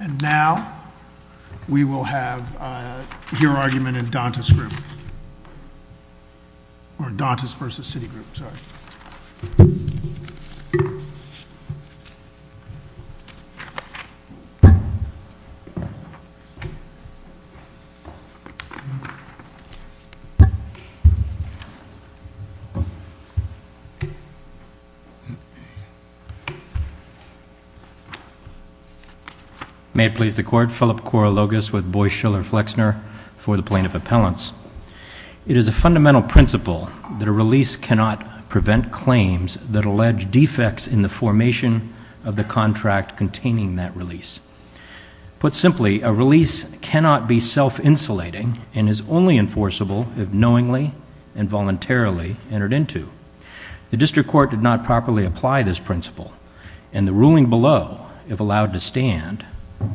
And now, we will have your argument in Dantas group. Or Dantas v. Citigroup, sorry. May it please the Court, Philip Korologos with Boies, Schiller, Flexner for the Plaintiff Appellants. It is a fundamental principle that a release cannot prevent claims that allege defects in the formation of the contract containing that release. Put simply, a release cannot be self-insulating and is only enforceable if knowingly and voluntarily entered into. The District Court did not properly apply this principle, and the ruling below, if allowed to stand,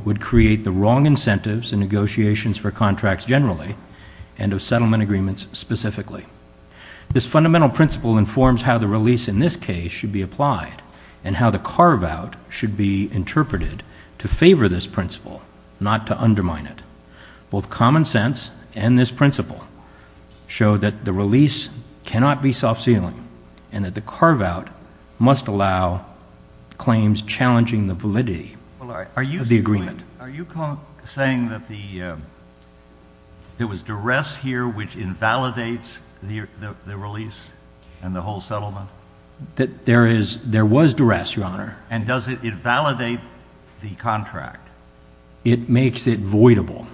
would create the wrong incentives in negotiations for contracts generally and of settlement agreements specifically. This fundamental principle informs how the release in this case should be applied and how the carve-out should be interpreted to favor this principle, not to undermine it. Both common sense and this principle show that the release cannot be self-sealing and that the carve-out must allow claims challenging the validity of the agreement. Are you saying that there was duress here which invalidates the release and the whole settlement? There was duress, Your Honor. And does it invalidate the contract? It makes it voidable,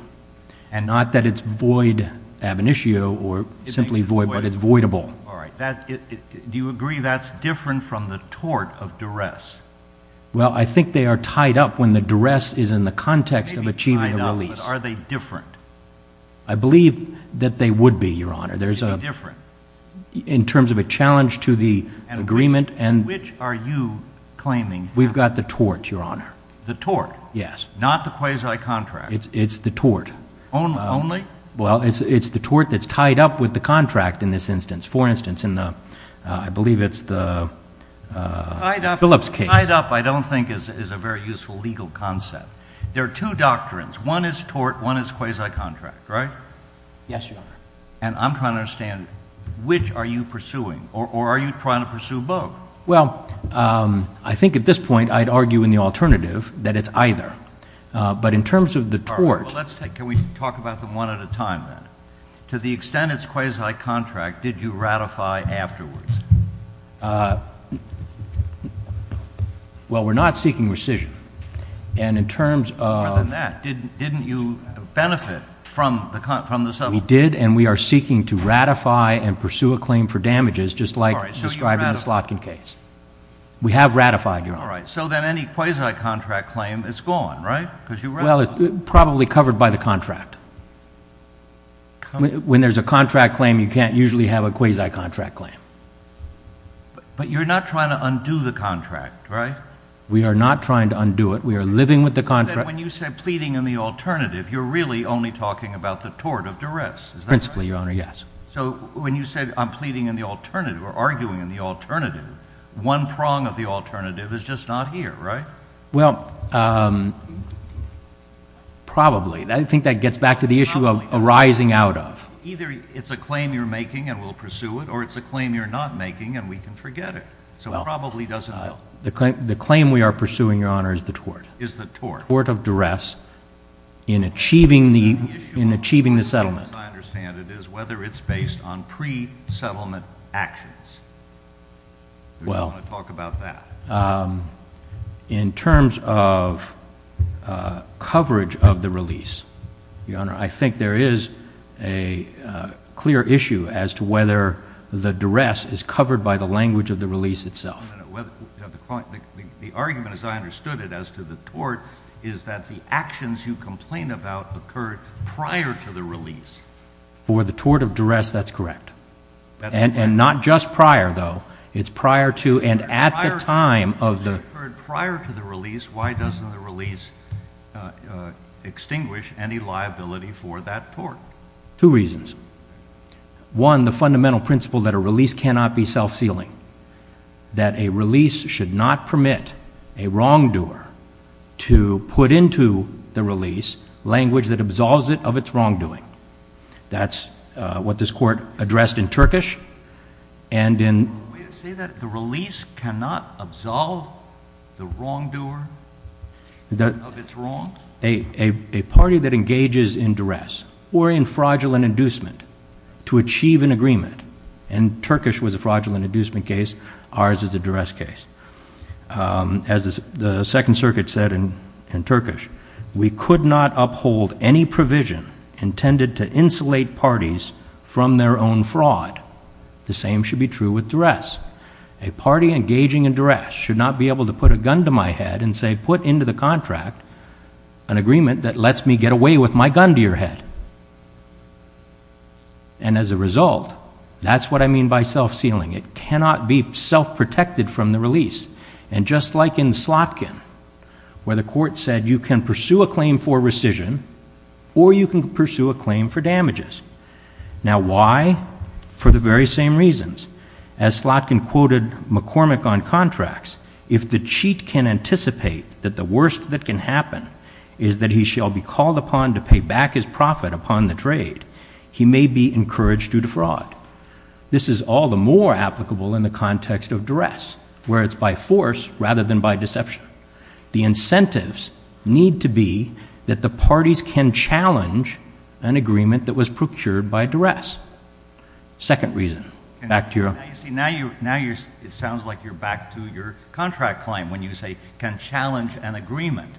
and not that it's void ab initio or simply void, but it's voidable. All right. Do you agree that's different from the tort of duress? Well, I think they are tied up when the duress is in the context of achieving a release. Maybe tied up, but are they different? I believe that they would be, Your Honor. In terms of a challenge to the agreement and— Which are you claiming? We've got the tort, Your Honor. The tort? Yes. Not the quasi-contract? It's the tort. Only? Well, it's the tort that's tied up with the contract in this instance. For instance, I believe it's the Phillips case. Tied up I don't think is a very useful legal concept. There are two doctrines. One is tort, one is quasi-contract, right? Yes, Your Honor. And I'm trying to understand which are you pursuing, or are you trying to pursue both? Well, I think at this point I'd argue in the alternative that it's either. But in terms of the tort— All right. Well, let's take it. Can we talk about them one at a time then? To the extent it's quasi-contract, did you ratify afterwards? Well, we're not seeking rescission. And in terms of— More than that. Didn't you benefit from the settlement? All right. We have ratified, Your Honor. All right. So then any quasi-contract claim is gone, right? Because you ratified it. Well, it's probably covered by the contract. When there's a contract claim, you can't usually have a quasi-contract claim. But you're not trying to undo the contract, right? We are not trying to undo it. We are living with the contract. So then when you said pleading in the alternative, you're really only talking about the tort of duress. Is that right? Principally, Your Honor, yes. So when you said I'm pleading in the alternative or arguing in the alternative, one prong of the alternative is just not here, right? Well, probably. I think that gets back to the issue of arising out of. Either it's a claim you're making and we'll pursue it, or it's a claim you're not making and we can forget it. So it probably doesn't help. The claim we are pursuing, Your Honor, is the tort. Is the tort. Tort of duress in achieving the settlement. The question, as I understand it, is whether it's based on pre-settlement actions. Do you want to talk about that? Well, in terms of coverage of the release, Your Honor, I think there is a clear issue as to whether the duress is covered by the language of the release itself. The argument, as I understood it, as to the tort is that the actions you complain about occurred prior to the release. For the tort of duress, that's correct. And not just prior, though. It's prior to and at the time of the. If it occurred prior to the release, why doesn't the release extinguish any liability for that tort? Two reasons. One, the fundamental principle that a release cannot be self-sealing. That a release should not permit a wrongdoer to put into the release language that absolves it of its wrongdoing. That's what this Court addressed in Turkish. Can we say that the release cannot absolve the wrongdoer of its wrong? A party that engages in duress or in fraudulent inducement to achieve an agreement, and Turkish was a fraudulent inducement case. Ours is a duress case. As the Second Circuit said in Turkish, we could not uphold any provision intended to insulate parties from their own fraud. The same should be true with duress. A party engaging in duress should not be able to put a gun to my head and say, put into the contract an agreement that lets me get away with my gun to your head. And as a result, that's what I mean by self-sealing. It cannot be self-protected from the release. And just like in Slotkin, where the Court said you can pursue a claim for rescission or you can pursue a claim for damages. Now, why? For the very same reasons. As Slotkin quoted McCormick on contracts, if the cheat can anticipate that the worst that can happen is that he shall be called upon to pay back his profit upon the trade, he may be encouraged to defraud. This is all the more applicable in the context of duress, where it's by force rather than by deception. The incentives need to be that the parties can challenge an agreement that was procured by duress. Second reason. Now it sounds like you're back to your contract claim when you say can challenge an agreement.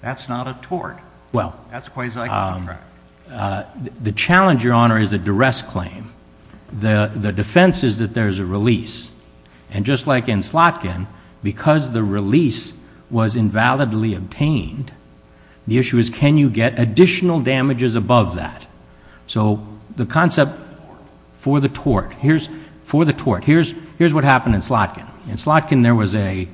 That's not a tort. That's quasi-contract. The challenge, Your Honor, is a duress claim. The defense is that there is a release. And just like in Slotkin, because the release was invalidly obtained, the issue is can you get additional damages above that? So the concept for the tort. Here's what happened in Slotkin. In Slotkin, there was a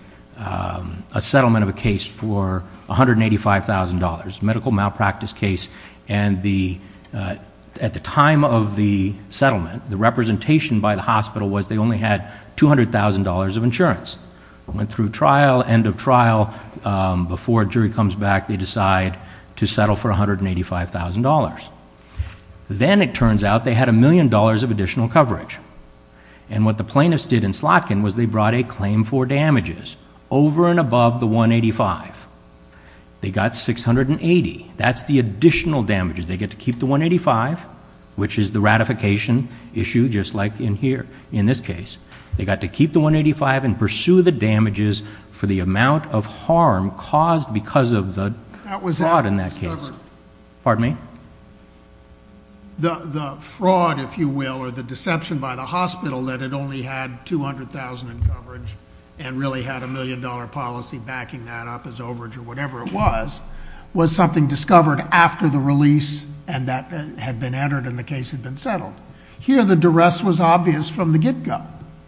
settlement of a case for $185,000, a medical malpractice case. And at the time of the settlement, the representation by the hospital was they only had $200,000 of insurance. Went through trial, end of trial. Before a jury comes back, they decide to settle for $185,000. Then it turns out they had a million dollars of additional coverage. And what the plaintiffs did in Slotkin was they brought a claim for damages over and above the $185,000. They got $680,000. That's the additional damages. They get to keep the $185,000, which is the ratification issue, just like in here, in this case. They got to keep the $185,000 and pursue the damages for the amount of harm caused because of the fraud in that case. Pardon me? The fraud, if you will, or the deception by the hospital that it only had $200,000 in coverage and really had a million dollar policy backing that up as overage or whatever it was, was something discovered after the release and that had been entered and the case had been settled. Here, the duress was obvious from the get-go.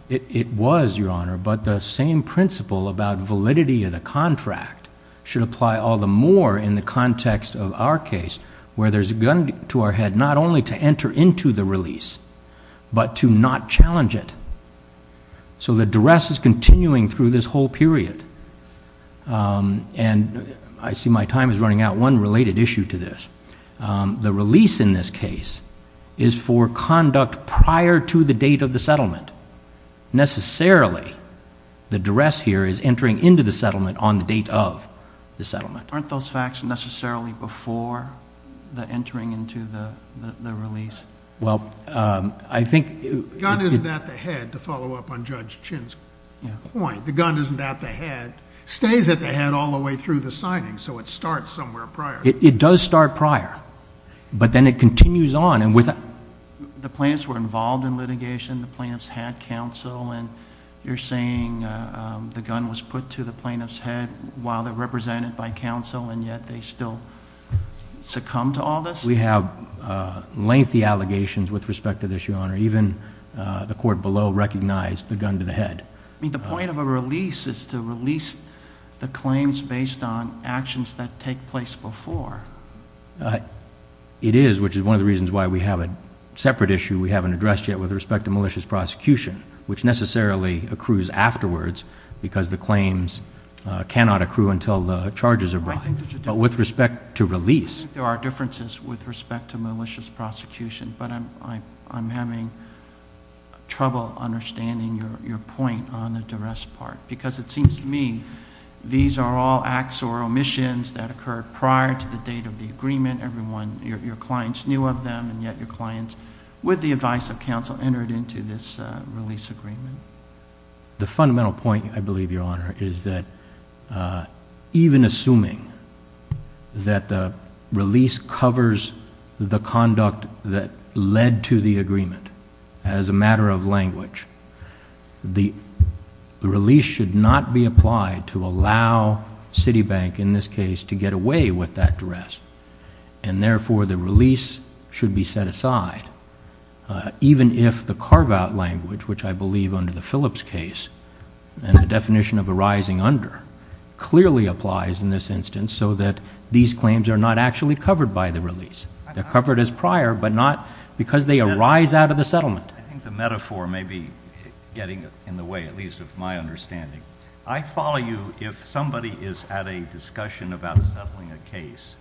It was, Your Honor, but the same principle about validity of the contract should apply all the more in the context of our case where there's a gun to our head not only to enter into the release but to not challenge it. So the duress is continuing through this whole period. And I see my time is running out. One related issue to this. The release in this case is for conduct prior to the date of the settlement. Necessarily, the duress here is entering into the settlement on the date of the settlement. Aren't those facts necessarily before the entering into the release? Well, I think it is. The gun isn't at the head, to follow up on Judge Chin's point. The gun isn't at the head. It stays at the head all the way through the signing, so it starts somewhere prior. It does start prior, but then it continues on. The plaintiffs were involved in litigation. The plaintiffs had counsel. And you're saying the gun was put to the plaintiff's head while they're represented by counsel, and yet they still succumb to all this? We have lengthy allegations with respect to this, Your Honor. Even the court below recognized the gun to the head. The point of a release is to release the claims based on actions that take place before. It is, which is one of the reasons why we have a separate issue we haven't addressed yet with respect to malicious prosecution, which necessarily accrues afterwards because the claims cannot accrue until the charges are brought. But with respect to release... Because it seems to me these are all acts or omissions that occurred prior to the date of the agreement. Your clients knew of them, and yet your clients, with the advice of counsel, entered into this release agreement. The fundamental point, I believe, Your Honor, is that even assuming that the release covers the conduct that led to the agreement as a matter of language, the release should not be applied to allow Citibank, in this case, to get away with that duress. And therefore, the release should be set aside, even if the carve-out language, which I believe under the Phillips case, and the definition of arising under, clearly applies in this instance so that these claims are not actually covered by the release. They're covered as prior, but not because they arise out of the settlement. I think the metaphor may be getting in the way, at least of my understanding. I follow you if somebody is at a discussion about settling a case,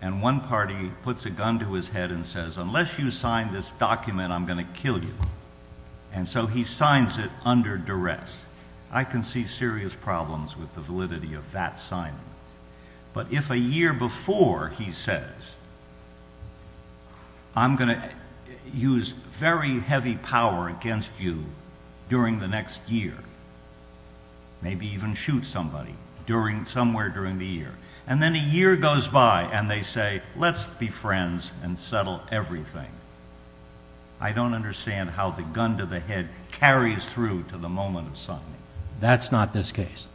and one party puts a gun to his head and says, unless you sign this document, I'm going to kill you. And so he signs it under duress. I can see serious problems with the validity of that signing. But if a year before he says, I'm going to use very heavy power against you during the next year, maybe even shoot somebody somewhere during the year, and then a year goes by and they say, let's be friends and settle everything, I don't understand how the gun to the head carries through to the moment of signing. That's not this case.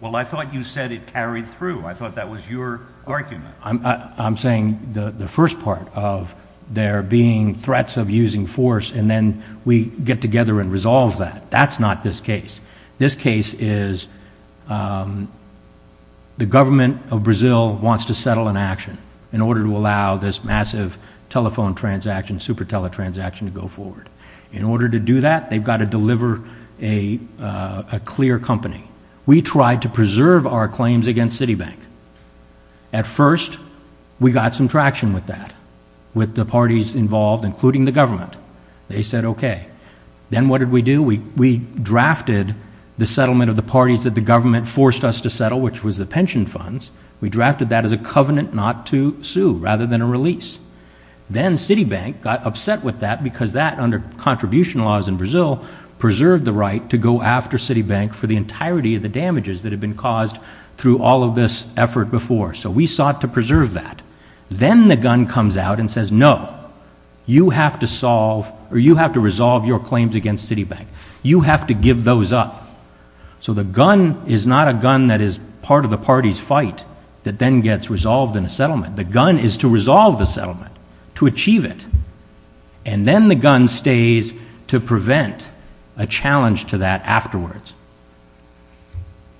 Well, I thought you said it carried through. I thought that was your argument. I'm saying the first part of there being threats of using force, and then we get together and resolve that. That's not this case. This case is the government of Brazil wants to settle an action in order to allow this massive telephone transaction, super tele-transaction to go forward. In order to do that, they've got to deliver a clear company. We tried to preserve our claims against Citibank. At first, we got some traction with that, with the parties involved, including the government. They said, okay. Then what did we do? We drafted the settlement of the parties that the government forced us to settle, which was the pension funds. We drafted that as a covenant not to sue rather than a release. Then Citibank got upset with that because that, under contribution laws in Brazil, preserved the right to go after Citibank for the entirety of the damages that had been caused through all of this effort before. So we sought to preserve that. Then the gun comes out and says, no, you have to solve or you have to resolve your claims against Citibank. You have to give those up. So the gun is not a gun that is part of the party's fight that then gets resolved in a settlement. The gun is to resolve the settlement, to achieve it. And then the gun stays to prevent a challenge to that afterwards.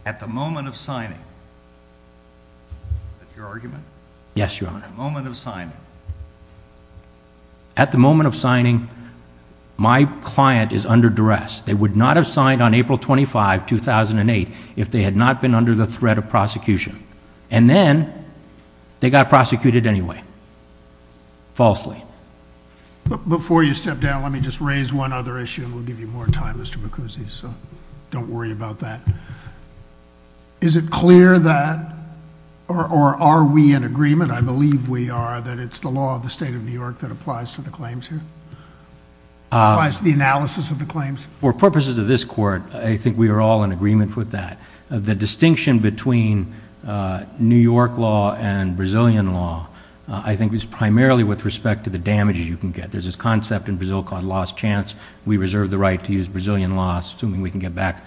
At the moment of signing, is that your argument? Yes, Your Honor. At the moment of signing. At the moment of signing, my client is under duress. They would not have signed on April 25, 2008 if they had not been under the threat of prosecution. And then they got prosecuted anyway. Falsely. Before you step down, let me just raise one other issue. We'll give you more time, Mr. Bacuzzi, so don't worry about that. Is it clear that, or are we in agreement, I believe we are, that it's the law of the state of New York that applies to the claims here? Applies to the analysis of the claims? For purposes of this court, I think we are all in agreement with that. The distinction between New York law and Brazilian law, I think, is primarily with respect to the damage you can get. There's this concept in Brazil called lost chance. We reserve the right to use Brazilian law, assuming we can get back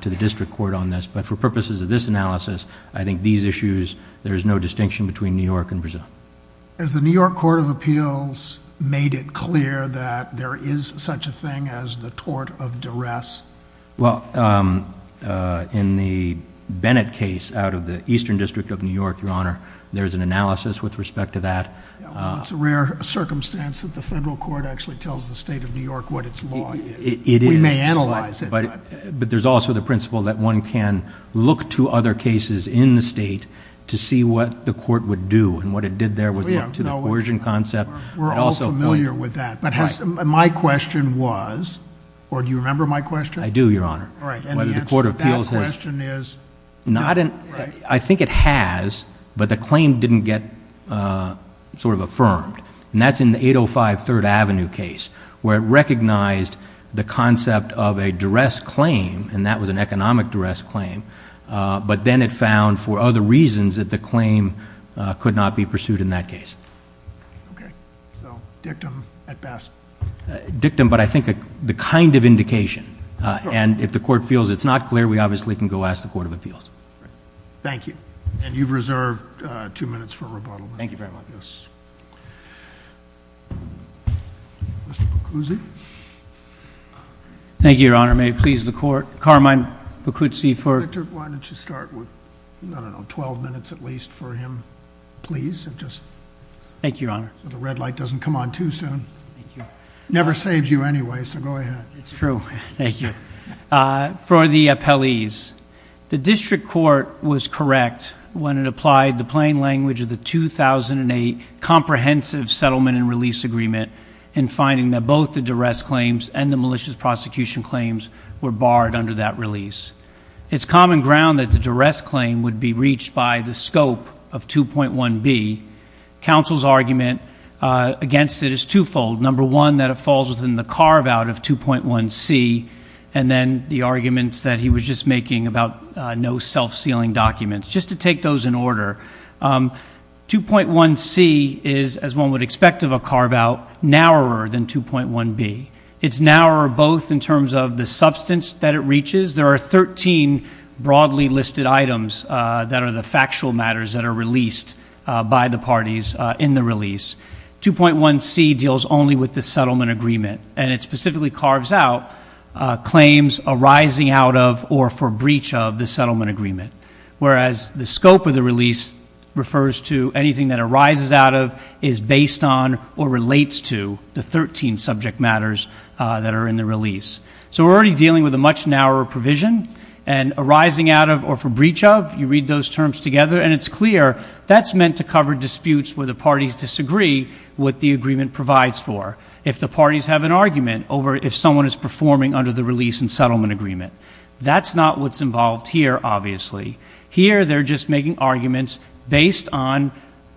to the district court on this. But for purposes of this analysis, I think these issues, there's no distinction between New York and Brazil. Has the New York Court of Appeals made it clear that there is such a thing as the tort of duress? Well, in the Bennett case out of the Eastern District of New York, Your Honor, there's an analysis with respect to that. It's a rare circumstance that the federal court actually tells the state of New York what its law is. It is. We may analyze it. But there's also the principle that one can look to other cases in the state to see what the court would do. And what it did there was look to the coercion concept. We're all familiar with that. My question was, or do you remember my question? I do, Your Honor. And the answer to that question is? I think it has, but the claim didn't get sort of affirmed. And that's in the 805 Third Avenue case where it recognized the concept of a duress claim, and that was an economic duress claim. But then it found for other reasons that the claim could not be pursued in that case. Okay. So dictum at best. Dictum, but I think the kind of indication. And if the court feels it's not clear, we obviously can go ask the Court of Appeals. Thank you. And you've reserved two minutes for rebuttal. Thank you very much. Yes. Mr. Pucuzzi. Thank you, Your Honor. May it please the Court. Carmine Pucuzzi for? Victor, why don't you start with, I don't know, 12 minutes at least for him, please. Thank you, Your Honor. So the red light doesn't come on too soon. It never saves you anyway, so go ahead. It's true. Thank you. For the appellees, the district court was correct when it applied the plain language of the 2008 Comprehensive Settlement and Release Agreement in finding that both the duress claims and the malicious prosecution claims were barred under that release. It's common ground that the duress claim would be reached by the scope of 2.1b. Counsel's argument against it is twofold. Number one, that it falls within the carve-out of 2.1c, and then the arguments that he was just making about no self-sealing documents. Just to take those in order, 2.1c is, as one would expect of a carve-out, narrower than 2.1b. It's narrower both in terms of the substance that it reaches. There are 13 broadly listed items that are the factual matters that are released by the parties in the release. 2.1c deals only with the settlement agreement, and it specifically carves out claims arising out of or for breach of the settlement agreement, whereas the scope of the release refers to anything that arises out of, is based on, or relates to the 13 subject matters that are in the release. So we're already dealing with a much narrower provision, and arising out of or for breach of, you read those terms together, and it's clear that's meant to cover disputes where the parties disagree what the agreement provides for, if the parties have an argument over if someone is performing under the release and settlement agreement. That's not what's involved here, obviously. Here, they're just making arguments based on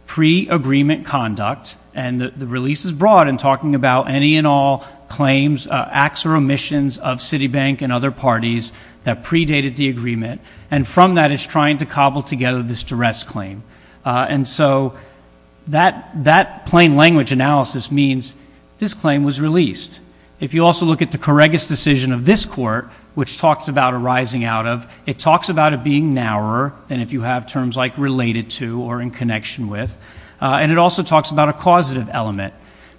pre-agreement conduct, and the release is broad in talking about any and all claims, acts or omissions of Citibank and other parties that predated the agreement, and from that it's trying to cobble together this duress claim. And so that plain language analysis means this claim was released. If you also look at the Corregus decision of this Court, which talks about arising out of, it talks about it being narrower than if you have terms like related to or in connection with, and it also talks about a causative element.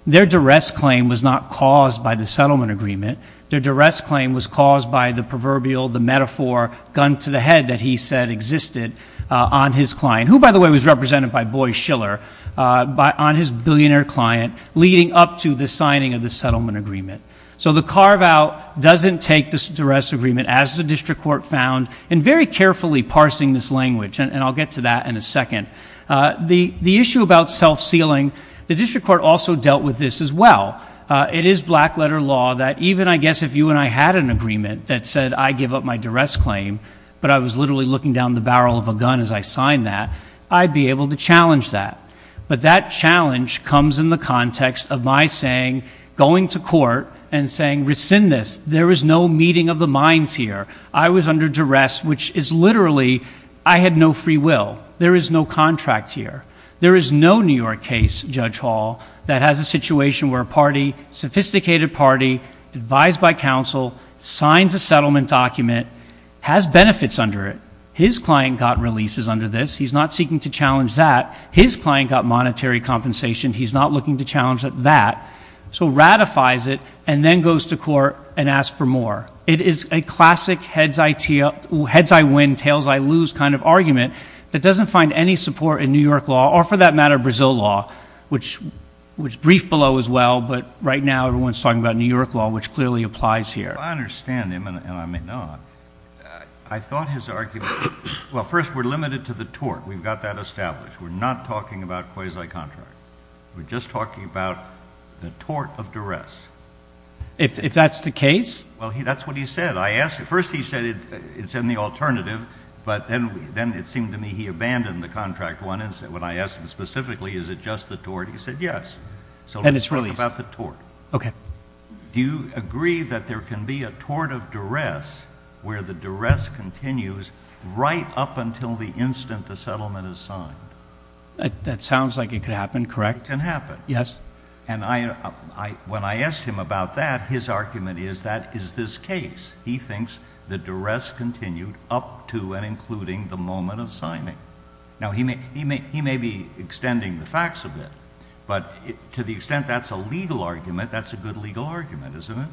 Their duress claim was not caused by the settlement agreement. Their duress claim was caused by the proverbial, the metaphor, gun to the head that he said existed on his client, who, by the way, was represented by Boy Schiller, on his billionaire client, leading up to the signing of the settlement agreement. So the carve-out doesn't take this duress agreement, as the district court found, and very carefully parsing this language, and I'll get to that in a second. The issue about self-sealing, the district court also dealt with this as well. It is black-letter law that even, I guess, if you and I had an agreement that said I give up my duress claim, but I was literally looking down the barrel of a gun as I signed that, I'd be able to challenge that. But that challenge comes in the context of my saying, going to court and saying, rescind this. There is no meeting of the minds here. I was under duress, which is literally I had no free will. There is no contract here. There is no New York case, Judge Hall, that has a situation where a party, sophisticated party, advised by counsel, signs a settlement document, has benefits under it. His client got releases under this. He's not seeking to challenge that. His client got monetary compensation. He's not looking to challenge that. So ratifies it and then goes to court and asks for more. It is a classic heads I win, tails I lose kind of argument that doesn't find any support in New York law or, for that matter, Brazil law, which is briefed below as well, but right now everyone is talking about New York law, which clearly applies here. I understand him, and I may not. I thought his argument, well, first, we're limited to the tort. We've got that established. We're not talking about quasi-contract. We're just talking about the tort of duress. If that's the case? Well, that's what he said. First he said it's in the alternative, but then it seemed to me he abandoned the contract one. When I asked him specifically, is it just the tort, he said yes. And it's released. So let's talk about the tort. Okay. Do you agree that there can be a tort of duress where the duress continues right up until the instant the settlement is signed? That sounds like it could happen, correct? It can happen. Yes. And when I asked him about that, his argument is that is this case. He thinks the duress continued up to and including the moment of signing. Now, he may be extending the facts a bit, but to the extent that's a legal argument, that's a good legal argument, isn't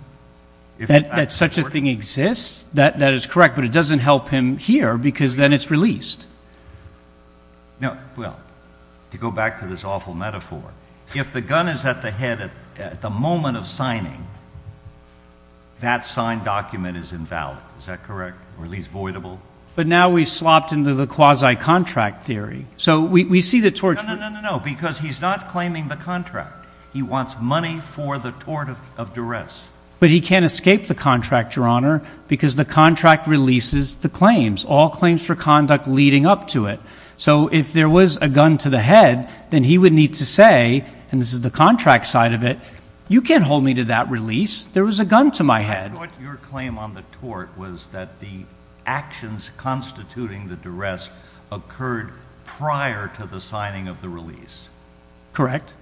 it? That such a thing exists? That is correct, but it doesn't help him here because then it's released. No. Well, to go back to this awful metaphor, if the gun is at the head at the moment of signing, that signed document is invalid. Is that correct? Or at least voidable? But now we've slopped into the quasi-contract theory. So we see the tort. No, no, no, no, because he's not claiming the contract. He wants money for the tort of duress. All claims for conduct leading up to it. So if there was a gun to the head, then he would need to say, and this is the contract side of it, you can't hold me to that release. There was a gun to my head. But your claim on the tort was that the actions constituting the duress occurred prior to the signing of the release. Correct.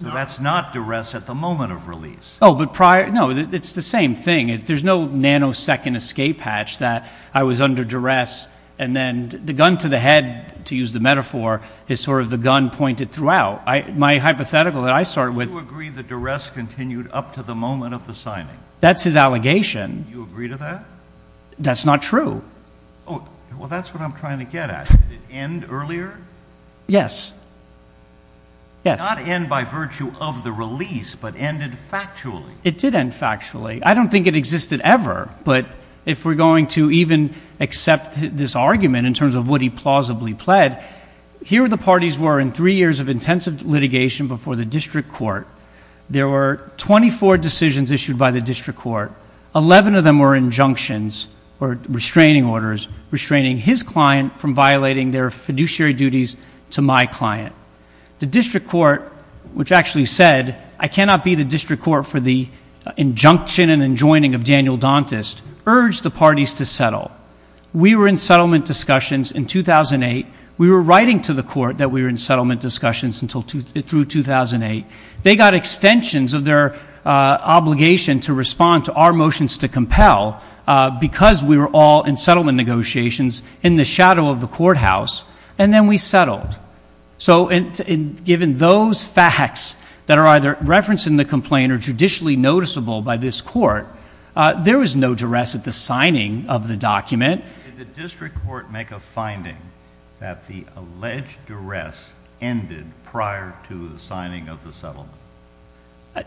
So that's not duress at the moment of release. Oh, but prior. No, it's the same thing. There's no nanosecond escape hatch that I was under duress, and then the gun to the head, to use the metaphor, is sort of the gun pointed throughout. My hypothetical that I started with — Do you agree that duress continued up to the moment of the signing? That's his allegation. Do you agree to that? That's not true. Oh, well, that's what I'm trying to get at. Did it end earlier? Yes. Yes. Not end by virtue of the release, but ended factually. It did end factually. I don't think it existed ever, but if we're going to even accept this argument in terms of what he plausibly pled, here the parties were in three years of intensive litigation before the district court. There were 24 decisions issued by the district court. Eleven of them were injunctions or restraining orders, restraining his client from violating their fiduciary duties to my client. The district court, which actually said, I cannot be the district court for the injunction and enjoining of Daniel Dauntess, urged the parties to settle. We were in settlement discussions in 2008. We were writing to the court that we were in settlement discussions through 2008. They got extensions of their obligation to respond to our motions to compel because we were all in settlement negotiations in the shadow of the courthouse, and then we settled. So given those facts that are either referenced in the complaint or judicially noticeable by this court, there was no duress at the signing of the document. Did the district court make a finding that the alleged duress ended prior to the signing of the settlement?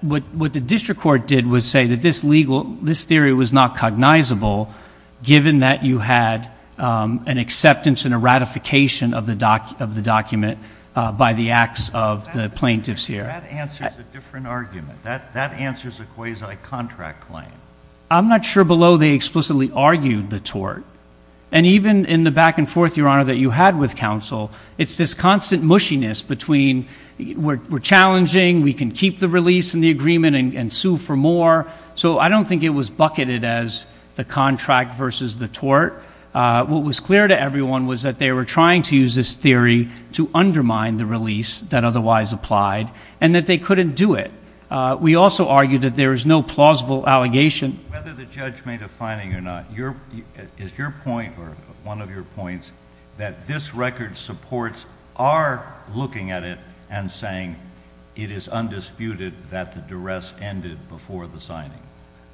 What the district court did was say that this theory was not cognizable, given that you had an acceptance and a ratification of the document by the acts of the plaintiffs here. That answers a different argument. That answers a quasi-contract claim. I'm not sure below they explicitly argued the tort. And even in the back and forth, Your Honor, that you had with counsel, it's this constant mushiness between we're challenging, we can keep the release in the agreement and sue for more. So I don't think it was bucketed as the contract versus the tort. What was clear to everyone was that they were trying to use this theory to undermine the release that otherwise applied, and that they couldn't do it. We also argued that there is no plausible allegation. Whether the judge made a finding or not, is your point, or one of your points, that this record supports our looking at it and saying it is undisputed that the duress ended before the signing?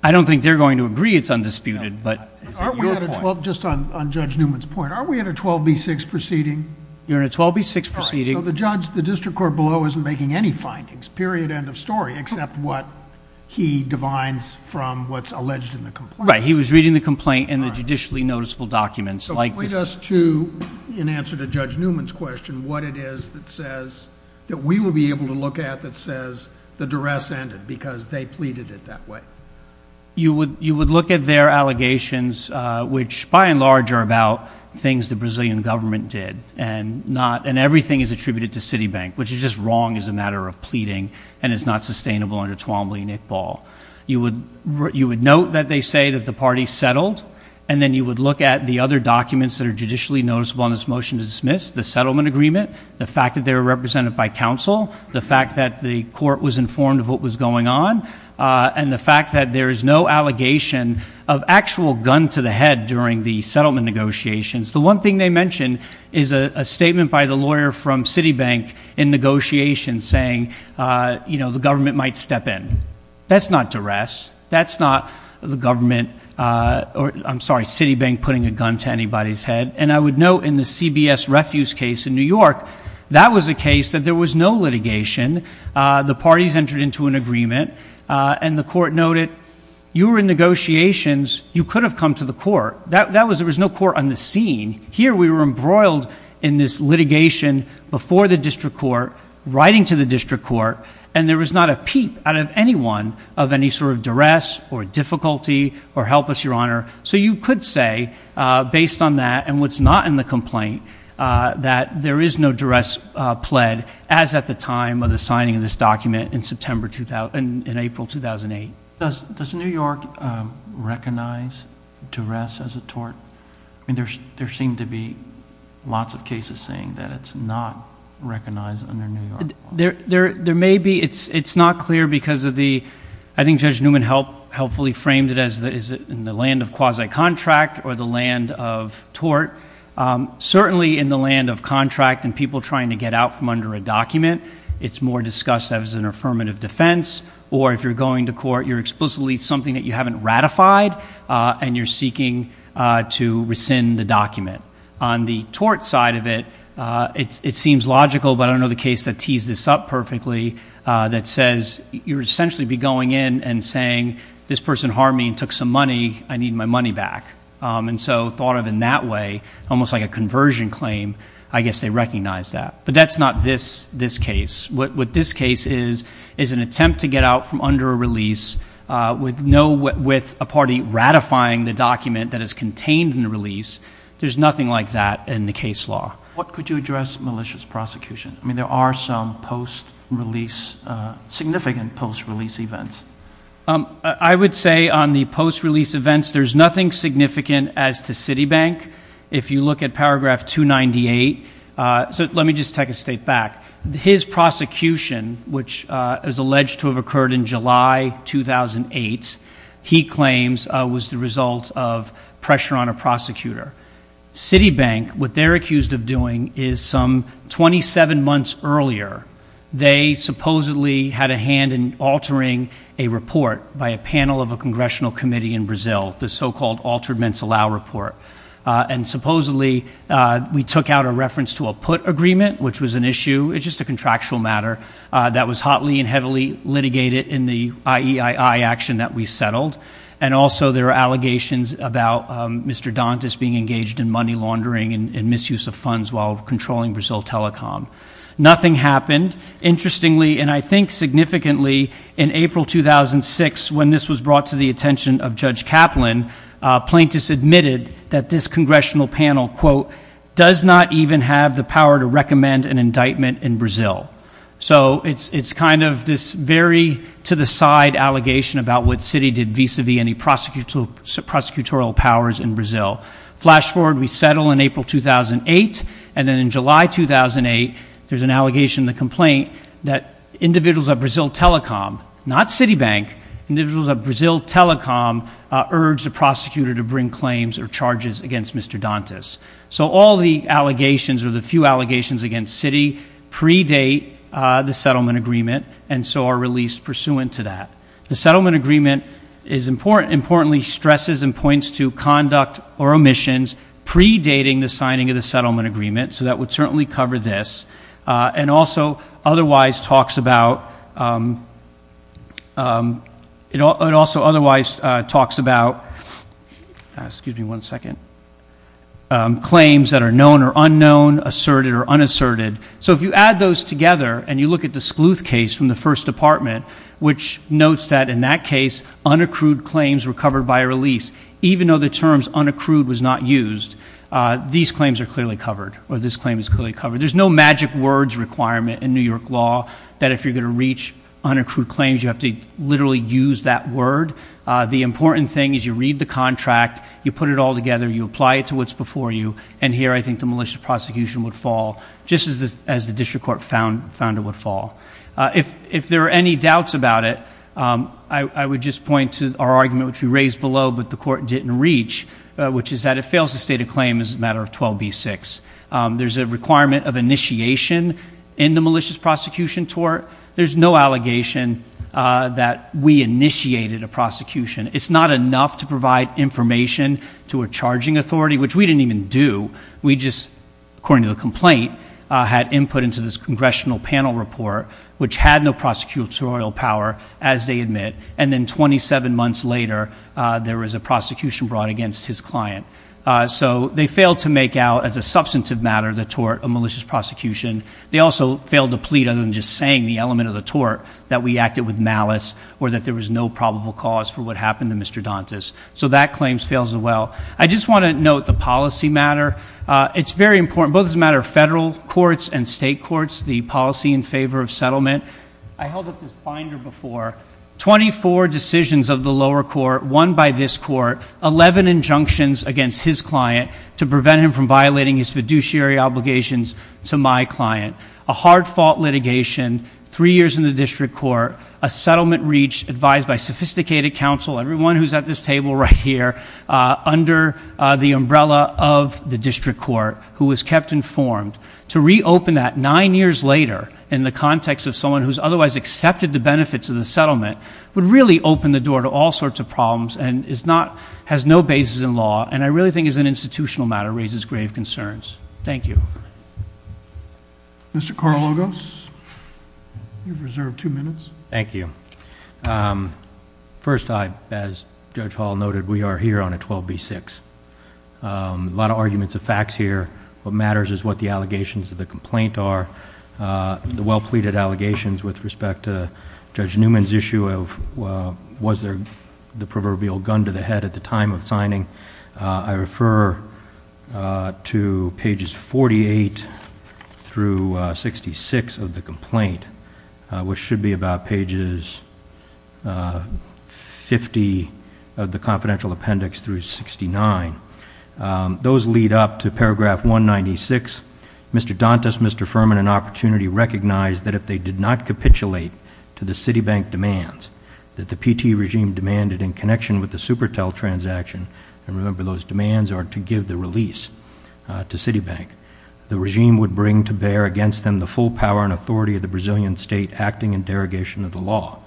I don't think they're going to agree it's undisputed, but is it your point? Just on Judge Newman's point, aren't we at a 12B6 proceeding? You're in a 12B6 proceeding. So the judge, the district court below, isn't making any findings, period, end of story, except what he divines from what's alleged in the complaint. Right, he was reading the complaint and the judicially noticeable documents like this. As to, in answer to Judge Newman's question, what it is that says, that we will be able to look at that says the duress ended because they pleaded it that way. You would look at their allegations, which by and large are about things the Brazilian government did, and everything is attributed to Citibank, which is just wrong as a matter of pleading, and it's not sustainable under Twombly and Iqbal. You would note that they say that the party settled, and then you would look at the other documents that are judicially noticeable on this motion to dismiss, the settlement agreement, the fact that they were represented by counsel, the fact that the court was informed of what was going on, and the fact that there is no allegation of actual gun to the head during the settlement negotiations. The one thing they mention is a statement by the lawyer from Citibank in negotiations saying, you know, the government might step in. That's not duress. That's not the government or, I'm sorry, Citibank putting a gun to anybody's head. And I would note in the CBS refuse case in New York, that was a case that there was no litigation. The parties entered into an agreement, and the court noted, you were in negotiations. You could have come to the court. There was no court on the scene. Here we were embroiled in this litigation before the district court, writing to the district court, and there was not a peep out of anyone of any sort of duress or difficulty or helpless, Your Honor. So you could say, based on that and what's not in the complaint, that there is no duress pled as at the time of the signing of this document in April 2008. Does New York recognize duress as a tort? I mean, there seem to be lots of cases saying that it's not recognized under New York. There may be. It's not clear because of the, I think Judge Newman helpfully framed it as in the land of quasi-contract or the land of tort. Certainly in the land of contract and people trying to get out from under a document, it's more discussed as an affirmative defense. Or if you're going to court, you're explicitly something that you haven't ratified, and you're seeking to rescind the document. On the tort side of it, it seems logical, but I don't know the case that tees this up perfectly, that says you would essentially be going in and saying, this person harmed me and took some money. I need my money back. And so thought of in that way, almost like a conversion claim, I guess they recognize that. But that's not this case. What this case is, is an attempt to get out from under a release with a party ratifying the document that is contained in the release. There's nothing like that in the case law. What could you address malicious prosecution? I mean, there are some post-release, significant post-release events. I would say on the post-release events, there's nothing significant as to Citibank. If you look at paragraph 298, so let me just take a state back. His prosecution, which is alleged to have occurred in July 2008, he claims was the result of pressure on a prosecutor. Citibank, what they're accused of doing is some 27 months earlier, they supposedly had a hand in altering a report by a panel of a congressional committee in Brazil, the so-called altered mens alaure report. And supposedly, we took out a reference to a put agreement, which was an issue, it's just a contractual matter that was hotly and heavily litigated in the IEII action that we settled. And also, there are allegations about Mr. Dantas being engaged in money laundering and misuse of funds while controlling Brazil Telecom. Nothing happened. Interestingly, and I think significantly, in April 2006, when this was brought to the attention of Judge Kaplan, plaintiffs admitted that this congressional panel, quote, does not even have the power to recommend an indictment in Brazil. So it's kind of this very to-the-side allegation about what Citi did vis-a-vis any prosecutorial powers in Brazil. Flash forward, we settle in April 2008, and then in July 2008, there's an allegation in the complaint that individuals at Brazil Telecom, not Citibank, individuals at Brazil Telecom urged the prosecutor to bring claims or charges against Mr. Dantas. So all the allegations or the few allegations against Citi predate the settlement agreement, and so are released pursuant to that. The settlement agreement importantly stresses and points to conduct or omissions predating the signing of the settlement agreement, so that would certainly cover this, and also otherwise talks about claims that are known or unknown, asserted or unasserted. So if you add those together and you look at the Scleuth case from the First Department, which notes that in that case unaccrued claims were covered by a release, even though the terms unaccrued was not used, these claims are clearly covered, or this claim is clearly covered. There's no magic words requirement in New York law that if you're going to reach unaccrued claims, you have to literally use that word. The important thing is you read the contract, you put it all together, you apply it to what's before you, and here I think the malicious prosecution would fall just as the district court found it would fall. If there are any doubts about it, I would just point to our argument, which we raised below, but the court didn't reach, which is that it fails to state a claim as a matter of 12b-6. There's a requirement of initiation in the malicious prosecution tort. There's no allegation that we initiated a prosecution. It's not enough to provide information to a charging authority, which we didn't even do. We just, according to the complaint, had input into this congressional panel report, which had no prosecutorial power, as they admit, and then 27 months later there was a prosecution brought against his client. So they failed to make out as a substantive matter the tort, a malicious prosecution. They also failed to plead, other than just saying the element of the tort, that we acted with malice or that there was no probable cause for what happened to Mr. Dantas. So that claim fails as well. I just want to note the policy matter. It's very important, both as a matter of federal courts and state courts, the policy in favor of settlement. I held up this binder before. Twenty-four decisions of the lower court, one by this court, 11 injunctions against his client to prevent him from violating his fiduciary obligations to my client, a hard-fought litigation, three years in the district court, a settlement reach advised by sophisticated counsel, everyone who's at this table right here, under the umbrella of the district court, who was kept informed. To reopen that nine years later in the context of someone who's otherwise accepted the benefits of the settlement would really open the door to all sorts of problems and has no basis in law and I really think as an institutional matter raises grave concerns. Thank you. Mr. Carlogos, you've reserved two minutes. Thank you. First, as Judge Hall noted, we are here on a 12b-6. A lot of arguments of facts here. What matters is what the allegations of the complaint are. The well-pleaded allegations with respect to Judge Newman's issue of was there the proverbial gun to the head at the time of signing. I refer to pages 48 through 66 of the complaint, which should be about pages 50 of the confidential appendix through 69. Those lead up to paragraph 196. Mr. Dantas, Mr. Furman, and Opportunity recognized that if they did not capitulate to the Citibank demands that the PT regime demanded in connection with the Supertel transaction, and remember those demands are to give the release to Citibank, the regime would bring to bear against them the full power and authority of the Brazilian state acting in derogation of the law.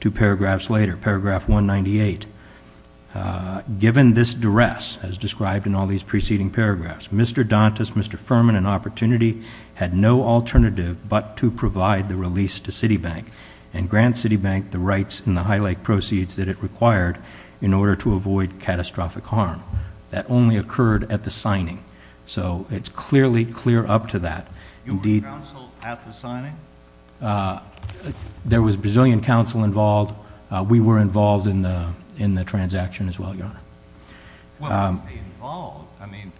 Two paragraphs later, paragraph 198, given this duress as described in all these preceding paragraphs, Mr. Dantas, Mr. Furman, and Opportunity had no alternative but to provide the release to Citibank and grant Citibank the rights in the High Lake proceeds that it required in order to avoid catastrophic harm. That only occurred at the signing. So it's clearly clear up to that. You were counseled at the signing? There was Brazilian counsel involved. We were involved in the transaction as well, Your Honor. Well, were they involved? I mean,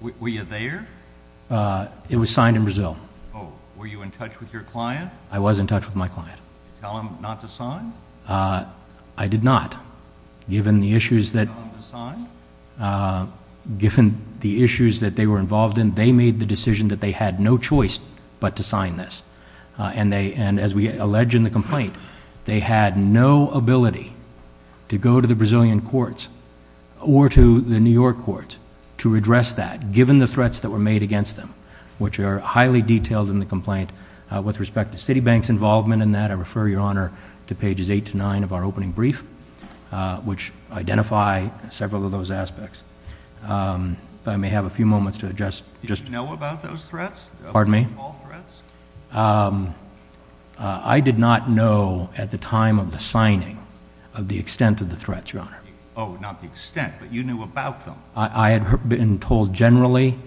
were you there? It was signed in Brazil. Oh, were you in touch with your client? I was in touch with my client. Did you tell him not to sign? I did not. Did you tell him to sign? Given the issues that they were involved in, they made the decision that they had no choice but to sign this, and as we allege in the complaint, they had no ability to go to the Brazilian courts or to the New York courts to address that, given the threats that were made against them, which are highly detailed in the complaint. With respect to Citibank's involvement in that, I refer, Your Honor, to pages 8 to 9 of our opening brief, which identify several of those aspects. I may have a few moments to adjust. Did you know about those threats? Pardon me? All threats? I did not know at the time of the signing of the extent of the threats, Your Honor. Oh, not the extent, but you knew about them? I had been told generally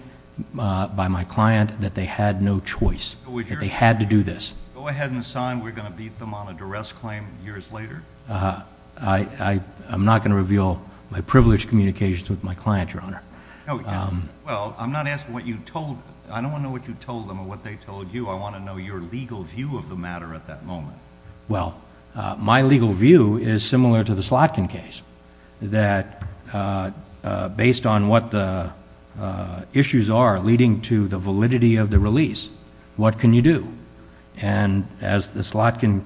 by my client that they had no choice, that they had to do this. Go ahead and sign. We're going to beat them on a duress claim years later. I'm not going to reveal my privileged communications with my client, Your Honor. Well, I'm not asking what you told them. I don't want to know what you told them or what they told you. I want to know your legal view of the matter at that moment. Well, my legal view is similar to the Slotkin case, that based on what the issues are leading to the validity of the release, what can you do? And as the Slotkin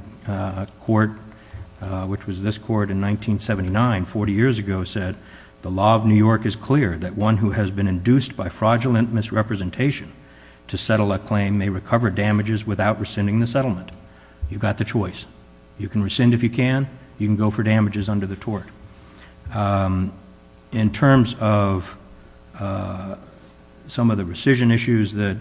court, which was this court in 1979, 40 years ago, said, the law of New York is clear that one who has been induced by fraudulent misrepresentation to settle a claim may recover damages without rescinding the settlement. You've got the choice. You can rescind if you can. You can go for damages under the tort. In terms of some of the rescission issues that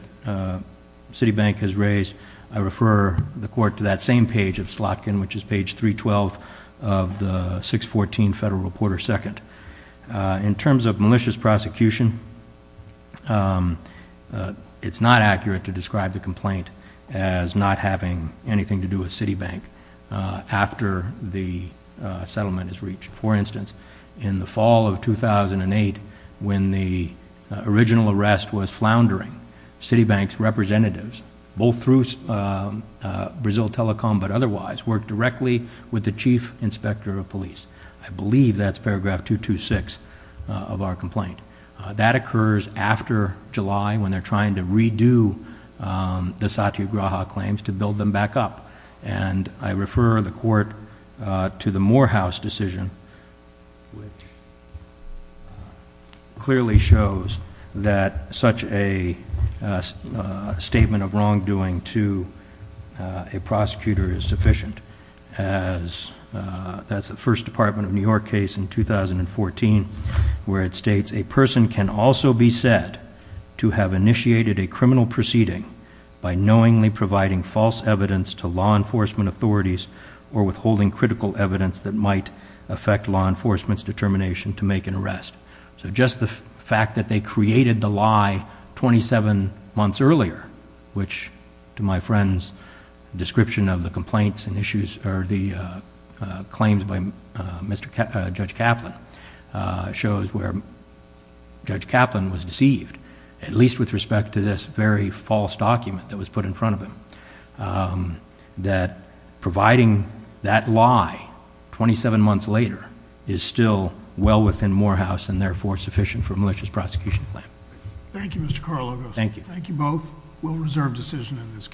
Citibank has raised, I refer the court to that same page of Slotkin, which is page 312 of the 614 Federal Reporter II. In terms of malicious prosecution, it's not accurate to describe the complaint as not having anything to do with Citibank after the settlement is reached. For instance, in the fall of 2008, when the original arrest was floundering, Citibank's representatives, both through Brazil Telecom but otherwise, worked directly with the chief inspector of police. I believe that's paragraph 226 of our complaint. That occurs after July when they're trying to redo the Satyagraha claims to build them back up. And I refer the court to the Morehouse decision, which clearly shows that such a statement of wrongdoing to a prosecutor is sufficient. That's the first Department of New York case in 2014 where it states, a person can also be said to have initiated a criminal proceeding by knowingly providing false evidence to law enforcement authorities or withholding critical evidence that might affect law enforcement's determination to make an arrest. So just the fact that they created the lie 27 months earlier, which, to my friend's description of the complaints and issues or the claims by Judge Kaplan, shows where Judge Kaplan was deceived, at least with respect to this very false document that was put in front of him, that providing that lie 27 months later is still well within Morehouse and therefore sufficient for a malicious prosecution plan. Thank you, Mr. Carlogos. Thank you. Thank you both. We'll reserve decision in this case.